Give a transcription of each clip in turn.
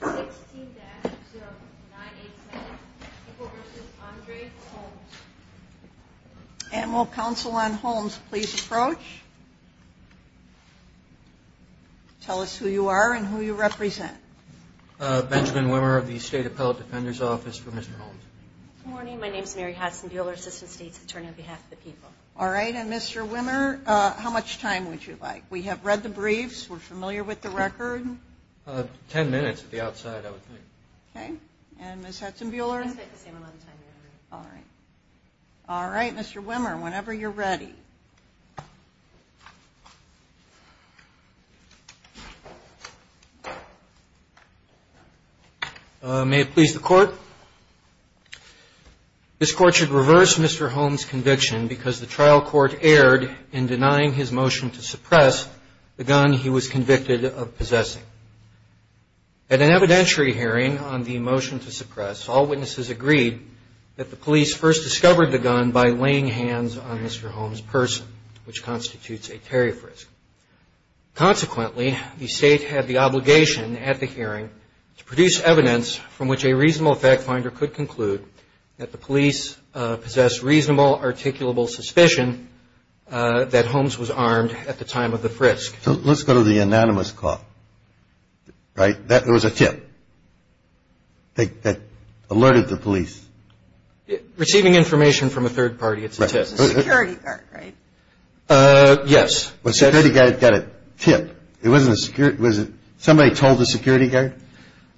16-0987, People v. Andre Holmes. And will Counsel on Holmes please approach? Tell us who you are and who you represent. Benjamin Wimmer of the State Appellate Defender's Office for Mr. Holmes. Good morning. My name is Mary Hassenbuehler, Assistant State's Attorney on behalf of the People. All right. And Mr. Wimmer, how much time would you like? We have read the briefs. We're familiar with the record. Ten minutes at the outside, I would think. Okay. And Ms. Hassenbuehler? I'd say the same amount of time, Mary. All right. All right. Mr. Wimmer, whenever you're ready. May it please the Court? This Court should reverse Mr. Holmes' conviction because the trial court erred in denying his motion to suppress the gun he was convicted of possessing. At an evidentiary hearing on the motion to suppress, all witnesses agreed that the police first discovered the gun by laying hands on Mr. Holmes' purse, which constitutes a tariff risk. Consequently, the State had the obligation at the hearing to produce evidence from which a reasonable fact finder could conclude that the police possessed reasonable, articulable suspicion that Holmes was armed at the time of the frisk. So let's go to the anonymous call, right? That was a tip that alerted the police. Receiving information from a third party, it's a tip. A security guard, right? Yes. A security guard got a tip. It wasn't a security guard. Was it somebody told the security guard?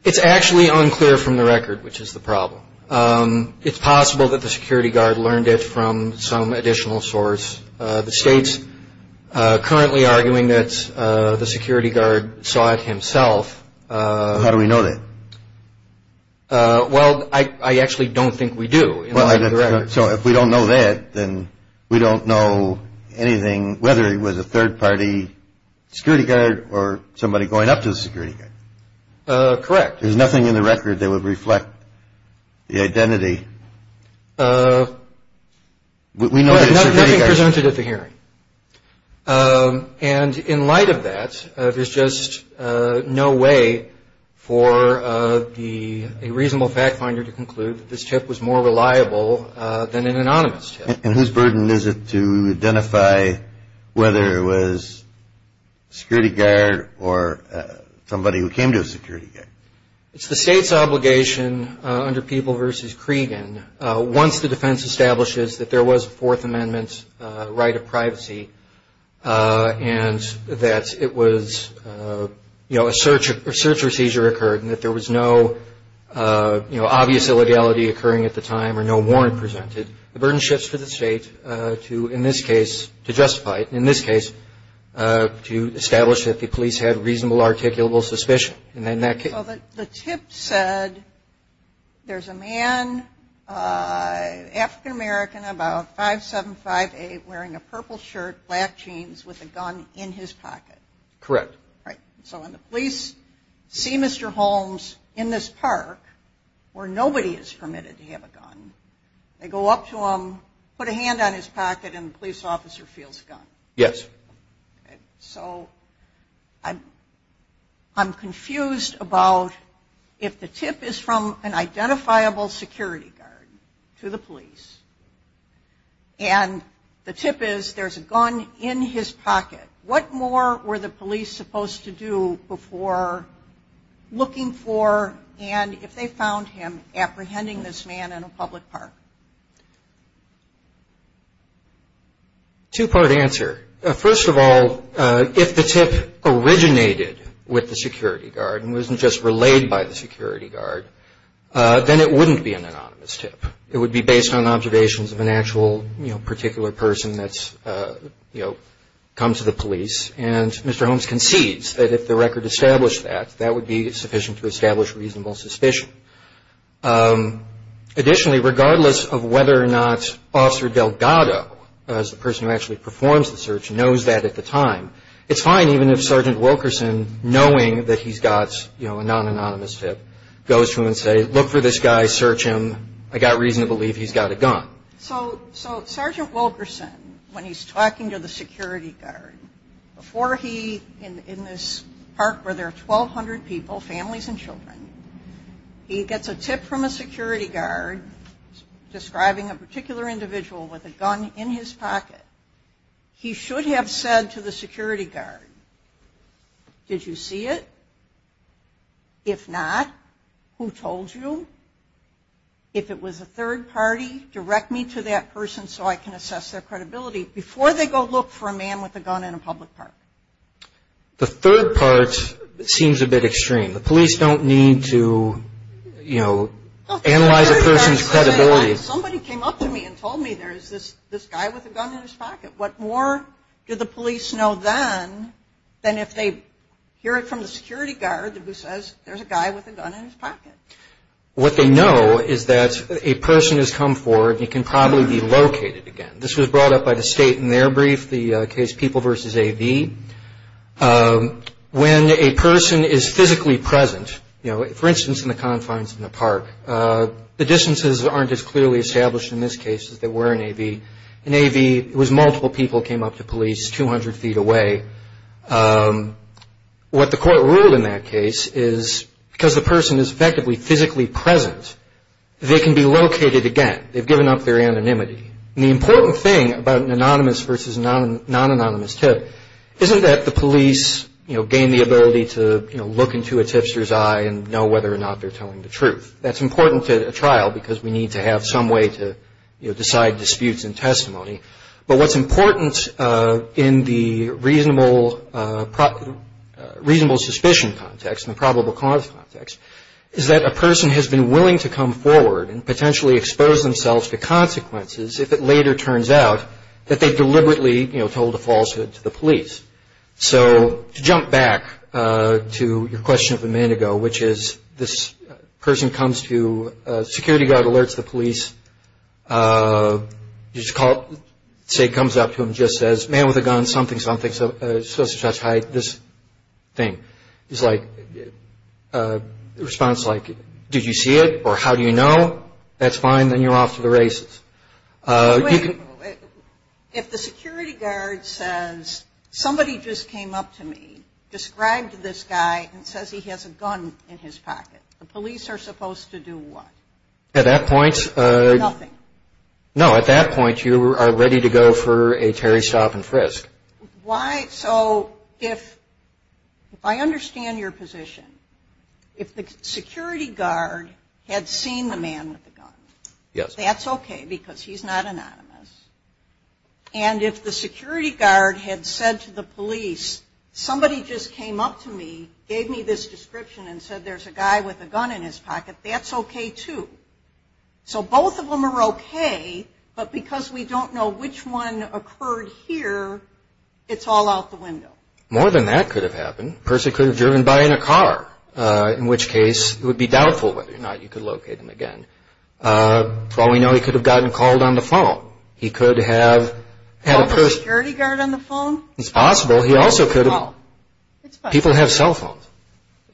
It's actually unclear from the record, which is the problem. It's possible that the security guard learned it from some additional source. The State's currently arguing that the security guard saw it himself. How do we know that? Well, I actually don't think we do. So if we don't know that, then we don't know anything, whether it was a third party security guard or somebody going up to the security guard. Correct. There's nothing in the record that would reflect the identity. We know that it's a security guard. Nothing presented at the hearing. And in light of that, there's just no way for a reasonable fact finder to conclude that this tip was more reliable than an anonymous tip. And whose burden is it to identify whether it was a security guard or somebody who came to a security guard? It's the State's obligation under People v. Cregan. Once the defense establishes that there was a Fourth Amendment right of privacy and that it was a search or seizure occurred and that there was no obvious illegality occurring at the time or no warrant presented, the burden shifts to the State to, in this case, to justify it. In this case, to establish that the police had reasonable articulable suspicion. The tip said there's a man, African American, about 5'7", 5'8", wearing a purple shirt, black jeans, with a gun in his pocket. Correct. Right. So when the police see Mr. Holmes in this park where nobody is permitted to have a gun, they go up to him, put a hand on his pocket, and the police officer feels the gun. Yes. So I'm confused about if the tip is from an identifiable security guard to the police and the tip is there's a gun in his pocket, what more were the police supposed to do before looking for and if they found him apprehending this man in a public park? Two-part answer. First of all, if the tip originated with the security guard and wasn't just relayed by the security guard, then it wouldn't be an anonymous tip. It would be based on observations of an actual particular person that's come to the police and Mr. Holmes concedes that if the record established that, that would be sufficient to establish reasonable suspicion. Additionally, regardless of whether or not Officer Delgado, as the person who actually performs the search, knows that at the time, it's fine even if Sergeant Wilkerson, knowing that he's got a non-anonymous tip, goes to him and says, look for this guy, search him, I got reason to believe he's got a gun. So Sergeant Wilkerson, when he's talking to the security guard, before he, in this park where there are 1,200 people, families and children, he gets a tip from a security guard describing a particular individual with a gun in his pocket. He should have said to the security guard, did you see it? If not, who told you? If it was a third party, direct me to that person so I can assess their credibility, before they go look for a man with a gun in a public park. The third part seems a bit extreme. The police don't need to, you know, analyze a person's credibility. Somebody came up to me and told me there's this guy with a gun in his pocket. What more do the police know then than if they hear it from the security guard who says there's a guy with a gun in his pocket? What they know is that a person has come forward and he can probably be located again. This was brought up by the state in their brief, the case People v. A.V. When a person is physically present, you know, for instance in the confines of the park, the distances aren't as clearly established in this case as they were in A.V. In A.V., it was multiple people came up to police 200 feet away. What the court ruled in that case is because the person is effectively physically present, they can be located again. They've given up their anonymity. And the important thing about an anonymous versus non-anonymous tip isn't that the police, you know, gain the ability to, you know, look into a tipster's eye and know whether or not they're telling the truth. That's important to a trial because we need to have some way to, you know, decide disputes in testimony. But what's important in the reasonable suspicion context, in the probable cause context, is that a person has been willing to come forward and potentially expose themselves to consequences if it later turns out that they deliberately, you know, told a falsehood to the police. So to jump back to your question of a minute ago, which is this person comes to security guard, alerts the police, you just call it, say comes up to him, just says, man with a gun, something, something, supposed to touch hide this thing. He's like, response like, did you see it or how do you know? That's fine. Then you're off to the races. Wait a minute. If the security guard says, somebody just came up to me, described this guy and says he has a gun in his pocket, the police are supposed to do what? At that point. Nothing. No, at that point you are ready to go for a Terry Stop and Frisk. Why? So if I understand your position, if the security guard had seen the man with the gun. Yes. That's okay because he's not anonymous. And if the security guard had said to the police, somebody just came up to me, gave me this description and said there's a guy with a gun in his pocket, that's okay too. So both of them are okay, but because we don't know which one occurred here, it's all out the window. More than that could have happened. The person could have driven by in a car, in which case it would be doubtful whether or not you could locate him again. For all we know, he could have gotten called on the phone. He could have had a person. Helped a security guard on the phone? It's possible. He also could have. People have cell phones.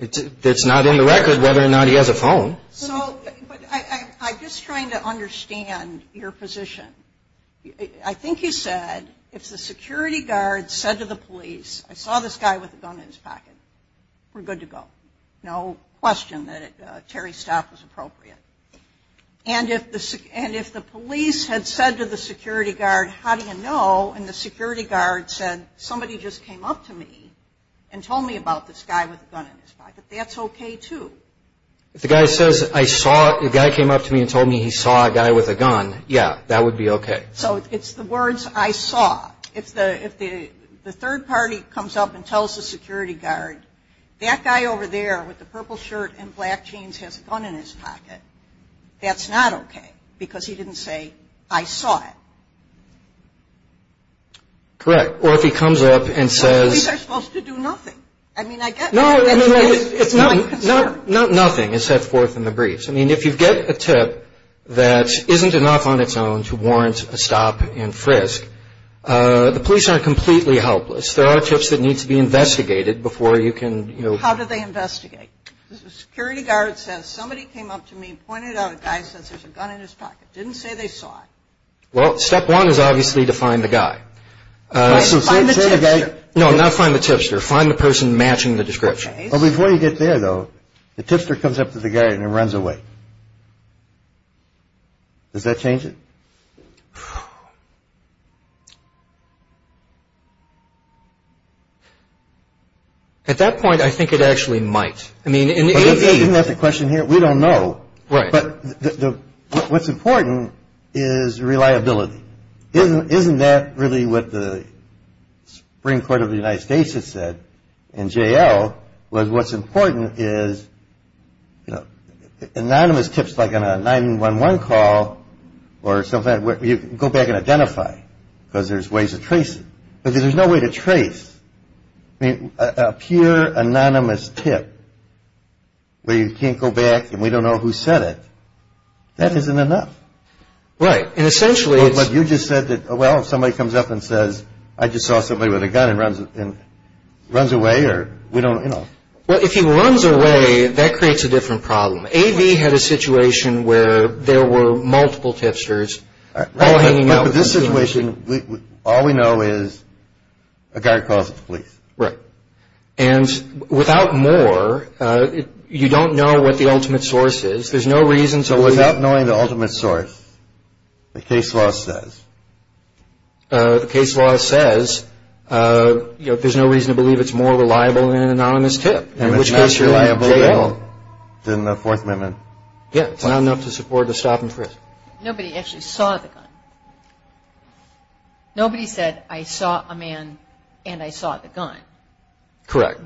It's not in the record whether or not he has a phone. So I'm just trying to understand your position. I think you said if the security guard said to the police, I saw this guy with a gun in his pocket, we're good to go. No question that Terry's stop was appropriate. And if the police had said to the security guard, how do you know, and the security guard said, somebody just came up to me and told me about this guy with a gun in his pocket, that's okay too. If the guy says, I saw, the guy came up to me and told me he saw a guy with a gun, yeah, that would be okay. So it's the words I saw. If the third party comes up and tells the security guard, that guy over there with the purple shirt and black jeans has a gun in his pocket, that's not okay because he didn't say, I saw it. Correct. Or if he comes up and says. The police are supposed to do nothing. I mean, I guess. No, no, no. It's not. Not nothing is set forth in the briefs. I mean, if you get a tip that isn't enough on its own to warrant a stop and frisk, the police aren't completely helpless. There are tips that need to be investigated before you can. How do they investigate? The security guard says, somebody came up to me and pointed out a guy says there's a gun in his pocket. Didn't say they saw it. Well, step one is obviously to find the guy. Find the tipster. Find the person matching the description. Before you get there, though, the tipster comes up to the guy and runs away. Does that change it? At that point, I think it actually might. Isn't that the question here? We don't know. But what's important is reliability. Isn't that really what the Supreme Court of the United States has said in J.L. was what's important is, you know, anonymous tips like on a 911 call or something, you can go back and identify because there's ways to trace it. But there's no way to trace. I mean, a pure anonymous tip where you can't go back and we don't know who said it, that isn't enough. Right. And essentially it's. But you just said that, well, if somebody comes up and says, I just saw somebody with a gun and runs away or we don't, you know. Well, if he runs away, that creates a different problem. A.B. had a situation where there were multiple tipsters all hanging out. But this situation, all we know is a guy calls the police. Right. And without more, you don't know what the ultimate source is. There's no reason. So without knowing the ultimate source, the case law says. The case law says, you know, there's no reason to believe it's more reliable than an anonymous tip. It's not reliable at all. In the Fourth Amendment. Yeah. It's not enough to support the stop and frisk. Nobody actually saw the gun. Nobody said, I saw a man and I saw the gun. Correct.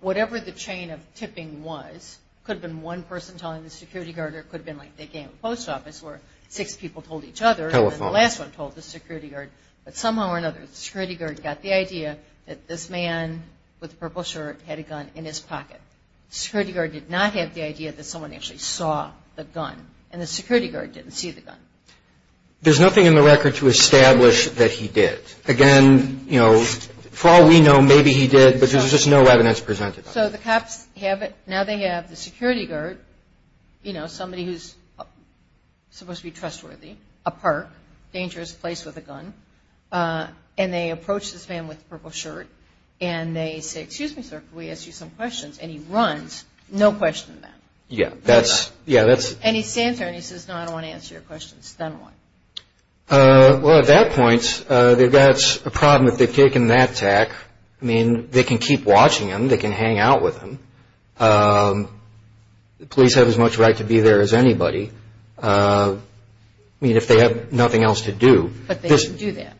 Whatever the chain of tipping was, could have been one person telling the security guard or it could have been like they gave a post office where six people told each other. Telephone. And the last one told the security guard. But somehow or another, the security guard got the idea that this man with the purple shirt had a gun in his pocket. The security guard did not have the idea that someone actually saw the gun. And the security guard didn't see the gun. There's nothing in the record to establish that he did. Again, you know, for all we know, maybe he did. But there's just no evidence presented. So the cops have it. Now they have the security guard, you know, somebody who's supposed to be trustworthy, a park, dangerous place with a gun. And they approach this man with the purple shirt. And they say, excuse me, sir, can we ask you some questions? And he runs, no question about it. Yeah. And he stands there and he says, no, I don't want to answer your questions. Then what? Well, at that point, they've got a problem if they've taken that tack. I mean, they can keep watching him. They can hang out with him. The police have as much right to be there as anybody. I mean, if they have nothing else to do. But they didn't do that.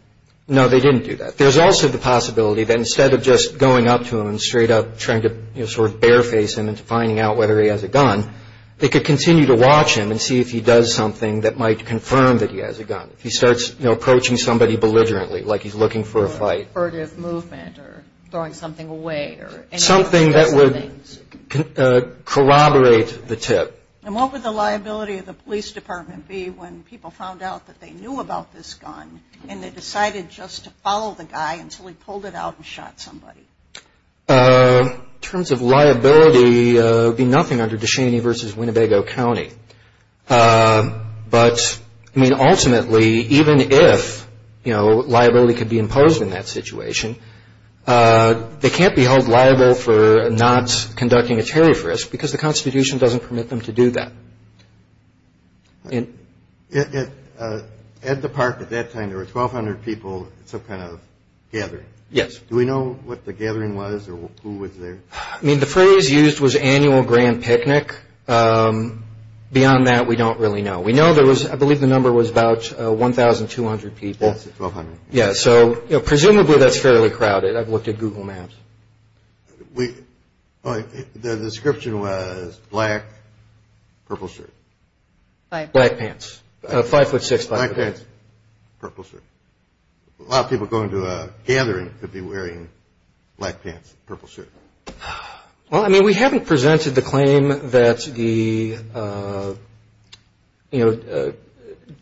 No, they didn't do that. There's also the possibility that instead of just going up to him and straight up trying to, you know, sort of bare face him and finding out whether he has a gun, they could continue to watch him and see if he does something that might confirm that he has a gun. If he starts, you know, approaching somebody belligerently, like he's looking for a fight. Or a furtive movement or throwing something away. Something that would corroborate the tip. And what would the liability of the police department be when people found out that they knew about this gun and they decided just to follow the guy until he pulled it out and shot somebody? In terms of liability, it would be nothing under Ducheney versus Winnebago County. But, I mean, ultimately, even if, you know, liability could be imposed in that situation, they can't be held liable for not conducting a terrorist risk because the Constitution doesn't permit them to do that. At the park at that time there were 1,200 people at some kind of gathering. Yes. Do we know what the gathering was or who was there? I mean, the phrase used was annual grand picnic. Beyond that, we don't really know. We know there was, I believe the number was about 1,200 people. Yes, 1,200. Yeah, so presumably that's fairly crowded. I've looked at Google Maps. The description was black, purple shirt. Black pants. Five foot six. Black pants, purple shirt. A lot of people going to a gathering could be wearing black pants and purple shirt. Well, I mean, we haven't presented the claim that the, you know,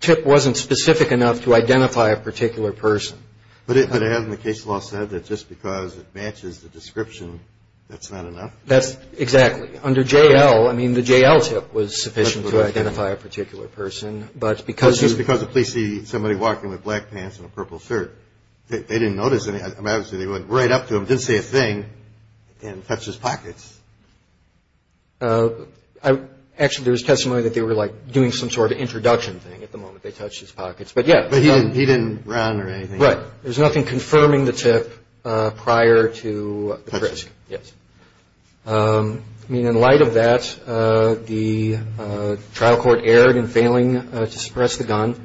tip wasn't specific enough to identify a particular person. But it has in the case law said that just because it matches the description, that's not enough? That's exactly. Under J.L., I mean, the J.L. tip was sufficient to identify a particular person. Because the police see somebody walking with black pants and a purple shirt, they didn't notice anything. They went right up to him, didn't say a thing, and touched his pockets. Actually, there was testimony that they were, like, doing some sort of introduction thing at the moment. They touched his pockets. But, yeah. But he didn't run or anything. There was nothing confirming the tip prior to the frisk. Yes. I mean, in light of that, the trial court erred in failing to suppress the gun.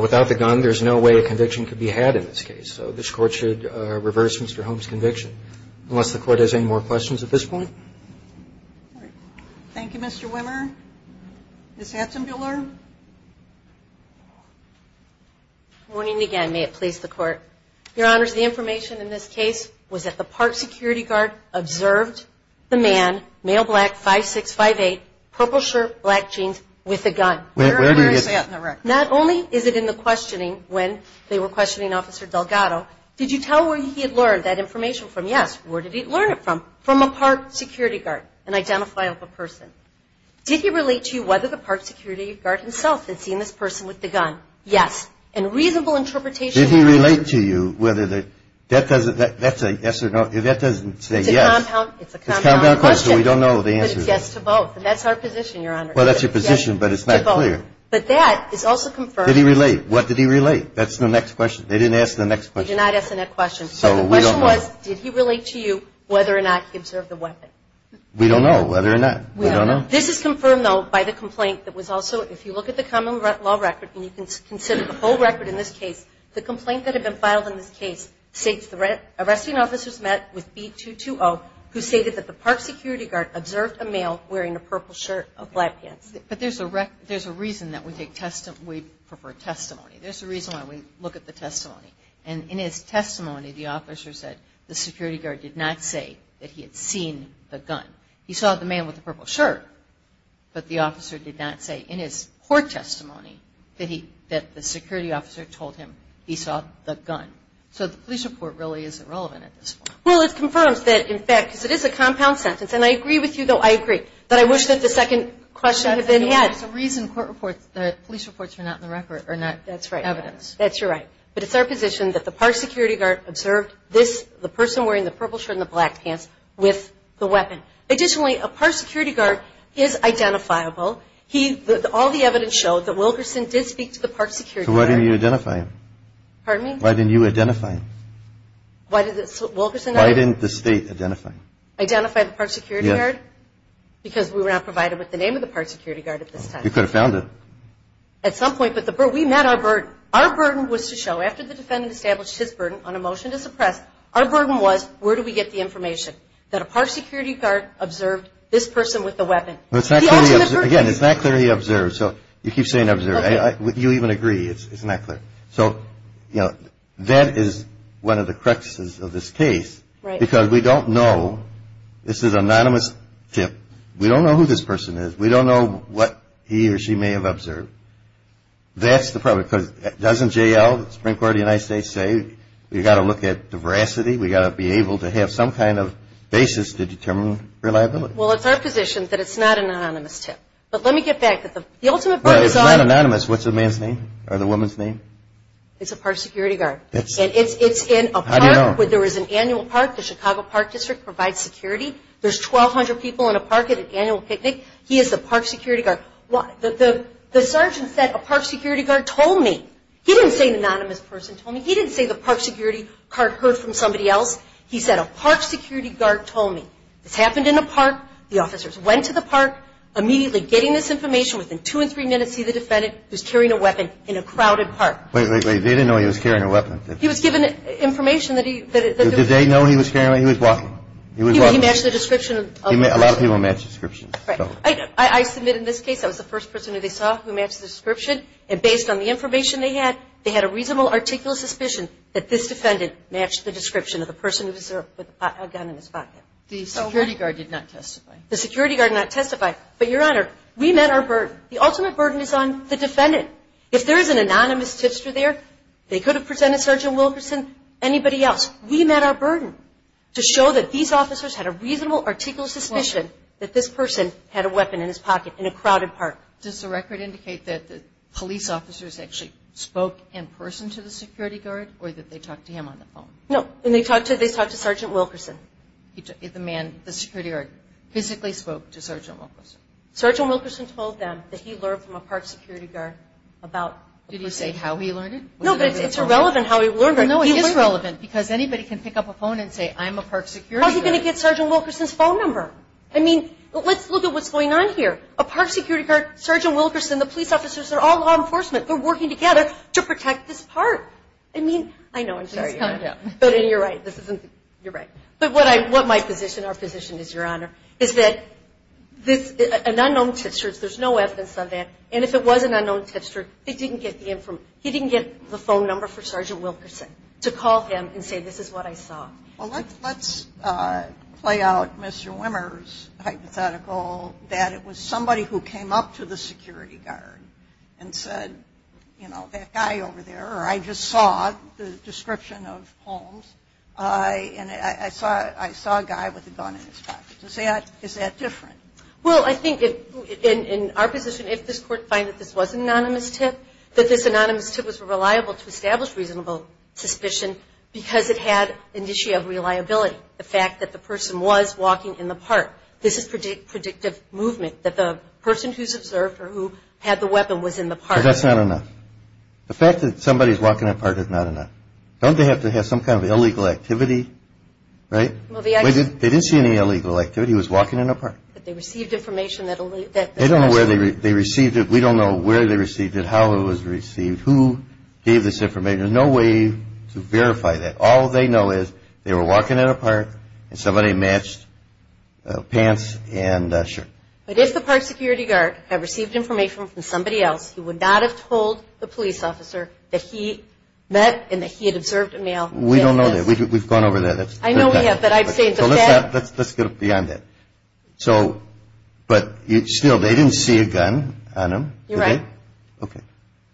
Without the gun, there's no way a conviction could be had in this case. So this court should reverse Mr. Holmes' conviction. Unless the court has any more questions at this point. Thank you, Mr. Wimmer. Ms. Hatzenbuehler. Good morning again. May it please the court. Your Honor, the information in this case was that the park security guard observed the man, male, black, 5'6", 5'8", purple shirt, black jeans, with a gun. Where is that? Not only is it in the questioning when they were questioning Officer Delgado, did you tell where he had learned that information from? Yes. Where did he learn it from? From a park security guard, an identifiable person. Did he relate to you whether the park security guard himself had seen this person with the gun? Yes. And reasonable interpretation. Did he relate to you whether the, that doesn't, that's a yes or no, that doesn't say yes. It's a compound question. It's a compound question. We don't know the answer. But it's yes to both. And that's our position, Your Honor. Well, that's your position, but it's not clear. Yes to both. But that is also confirmed. Did he relate? What did he relate? That's the next question. They didn't ask the next question. They did not ask the next question. So we don't know. So the question was, did he relate to you whether or not he observed the weapon? We don't know whether or not. We don't know. This is confirmed, though, by the complaint that was also, if you look at the common law record, and you can consider the whole record in this case, the complaint that had been filed in this case states the arresting officers met with B220, who stated that the park security guard observed a male wearing a purple shirt of black pants. But there's a reason that we prefer testimony. There's a reason why we look at the testimony. And in his testimony, the officer said the security guard did not say that he had seen the gun. He saw the man with the purple shirt, but the officer did not say in his court testimony that the security officer told him he saw the gun. So the police report really isn't relevant at this point. Well, it confirms that, in fact, because it is a compound sentence. And I agree with you, though. I agree. But I wish that the second question had been had. There's a reason the police reports were not in the record or not evidence. That's right. That's right. But it's our position that the park security guard observed the person wearing the purple shirt and the black pants with the weapon. Additionally, a park security guard is identifiable. All the evidence showed that Wilkerson did speak to the park security guard. So why didn't you identify him? Pardon me? Why didn't you identify him? Why did Wilkerson not? Why didn't the state identify him? Identify the park security guard? Yes. Because we were not provided with the name of the park security guard at this time. You could have found it. At some point. But we met our burden. Our burden was to show, after the defendant established his burden on a motion to suppress, our burden was where do we get the information that a park security guard observed this person with the weapon. Again, it's not clear he observed. So you keep saying observed. You even agree it's not clear. So, you know, that is one of the cruxes of this case. Right. Because we don't know. This is an anonymous tip. We don't know who this person is. We don't know what he or she may have observed. That's the problem. Because doesn't J.L., the Supreme Court of the United States, say we've got to look at the veracity? We've got to be able to have some kind of basis to determine reliability. Well, it's our position that it's not an anonymous tip. But let me get back. The ultimate burden is on. Well, it's not anonymous. What's the man's name or the woman's name? It's a park security guard. And it's in a park where there is an annual park. The Chicago Park District provides security. There's 1,200 people in a park at an annual picnic. He is the park security guard. The sergeant said a park security guard told me. He didn't say an anonymous person told me. He didn't say the park security guard heard from somebody else. He said a park security guard told me. This happened in a park. The officers went to the park, immediately getting this information. Within two and three minutes, he, the defendant, was carrying a weapon in a crowded park. Wait, wait, wait. They didn't know he was carrying a weapon. He was given information that he was. Did they know he was carrying a weapon? He was walking. He matched the description. A lot of people match descriptions. Right. I submitted this case. I was the first person that they saw who matched the description. And based on the information they had, they had a reasonable, articulate suspicion that this defendant matched the description of the person with a gun in his pocket. The security guard did not testify. The security guard did not testify. But, Your Honor, we met our burden. The ultimate burden is on the defendant. If there is an anonymous tipster there, they could have presented Sergeant Wilkerson, anybody else. We met our burden to show that these officers had a reasonable, articulate suspicion that this person had a weapon in his pocket in a crowded park. Does the record indicate that the police officers actually spoke in person to the security guard or that they talked to him on the phone? No. And they talked to Sergeant Wilkerson. The security guard physically spoke to Sergeant Wilkerson. Sergeant Wilkerson told them that he learned from a park security guard about. Did he say how he learned it? No, but it's irrelevant how he learned it. No, it is relevant because anybody can pick up a phone and say, I'm a park security guard. How is he going to get Sergeant Wilkerson's phone number? I mean, let's look at what's going on here. A park security guard, Sergeant Wilkerson, the police officers, they're all law enforcement. They're working together to protect this park. I mean, I know, I'm sorry, Your Honor. You're right. You're right. But what my position, our position is, Your Honor, is that an unknown tipster, there's no evidence of that, and if it was an unknown tipster, he didn't get the phone number for Sergeant Wilkerson to call him and say, this is what I saw. Well, let's play out Mr. Wimmer's hypothetical, that it was somebody who came up to the security guard and said, you know, that guy over there, or I just saw the description of Holmes, and I saw a guy with a gun in his pocket. Is that different? Well, I think in our position, if this Court finds that this was an anonymous tip, that this anonymous tip was reliable to establish reasonable suspicion because it had an issue of reliability, the fact that the person was walking in the park. This is predictive movement, that the person who's observed or who had the weapon was in the park. But that's not enough. The fact that somebody's walking in a park is not enough. Don't they have to have some kind of illegal activity, right? They didn't see any illegal activity. He was walking in a park. But they received information. They don't know where they received it. We don't know where they received it, how it was received, who gave this information. There's no way to verify that. All they know is they were walking in a park and somebody matched pants and shirt. But if the park security guard had received information from somebody else, he would not have told the police officer that he met and that he had observed a male. We don't know that. We've gone over that. I know we have, but I'd say it's a fact. Let's get beyond that. So, but still, they didn't see a gun on him, did they? You're right. Okay.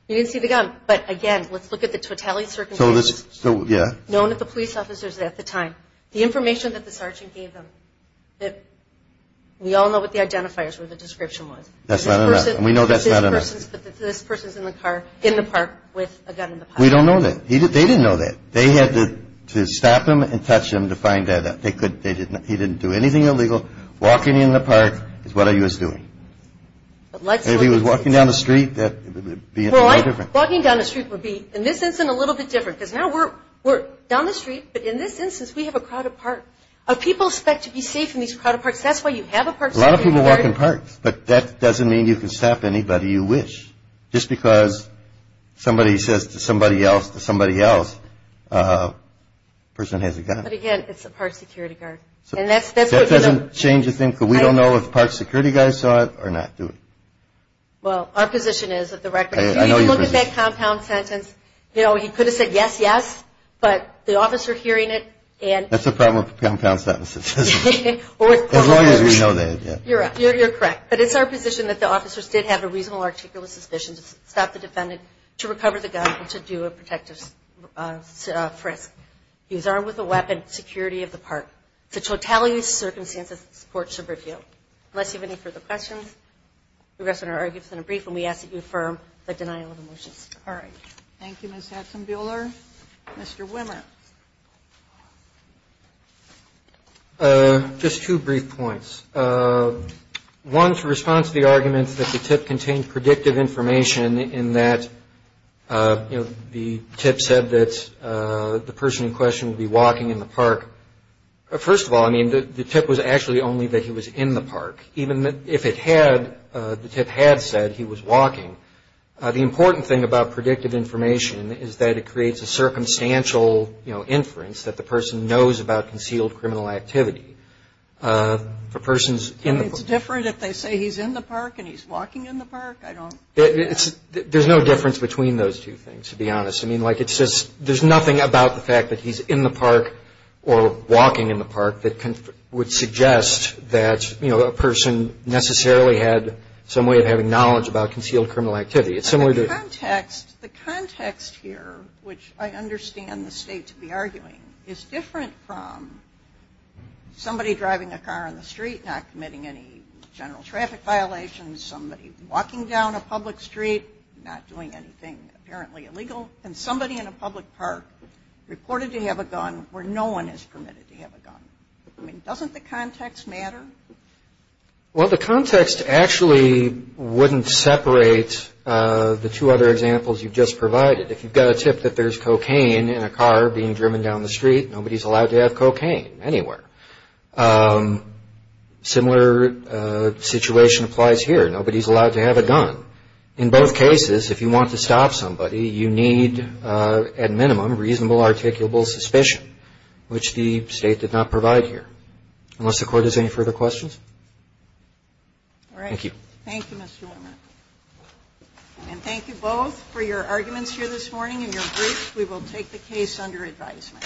You didn't see the gun. But, again, let's look at the totality of circumstances. So, yeah. Known to the police officers at the time. The information that the sergeant gave them, we all know what the identifiers or the description was. That's not enough. We know that's not enough. This person's in the car in the park with a gun in the pocket. We don't know that. They didn't know that. They had to stop him and touch him to find out. He didn't do anything illegal. Walking in the park is what he was doing. If he was walking down the street, that would be no different. Walking down the street would be, in this instance, a little bit different. Because now we're down the street, but in this instance, we have a crowded park. People expect to be safe in these crowded parks. That's why you have a park security guard. A lot of people walk in parks, but that doesn't mean you can stop anybody you wish. Just because somebody says to somebody else, to somebody else, a person has a gun. But, again, it's a park security guard. That doesn't change a thing, because we don't know if the park security guys saw it or not, do we? Well, our position is, at the record, if you look at that compound sentence, he could have said, yes, yes, but the officer hearing it and That's the problem with compound sentences. As long as we know that, yeah. You're correct. But it's our position that the officers did have a reasonable, articulate suspicion to stop the defendant to recover the gun and to do a protective frisk. He was armed with a weapon, security of the park. The totality of the circumstances, the court should review. Unless you have any further questions, The rest of our arguments are brief, and we ask that you affirm the denial of the motions. All right. Thank you, Ms. Hatzenbuehler. Mr. Wimmer. Just two brief points. One, to respond to the argument that the tip contained predictive information, in that the tip said that the person in question would be walking in the park. First of all, I mean, the tip was actually only that he was in the park. Even if it had, the tip had said he was walking. The important thing about predictive information is that it creates a circumstantial, you know, inference that the person knows about concealed criminal activity. For persons in the park. And it's different if they say he's in the park and he's walking in the park? I don't. There's no difference between those two things, to be honest. I mean, like, it's just, there's nothing about the fact that he's in the park or walking in the park that would suggest that, you know, a person necessarily had some way of having knowledge about concealed criminal activity. It's similar to. The context here, which I understand the state to be arguing, is different from somebody driving a car on the street, not committing any general traffic violations, somebody walking down a public street not doing anything apparently illegal, and somebody in a public park reported to have a gun where no one is permitted to have a gun. I mean, doesn't the context matter? Well, the context actually wouldn't separate the two other examples you've just provided. If you've got a tip that there's cocaine in a car being driven down the street, nobody's allowed to have cocaine anywhere. Similar situation applies here. Nobody's allowed to have a gun. In both cases, if you want to stop somebody, you need, at minimum, reasonable, articulable suspicion, which the State did not provide here. Unless the Court has any further questions? Thank you. All right. Thank you, Mr. Wehmer. And thank you both for your arguments here this morning and your briefs. We will take the case under advisement.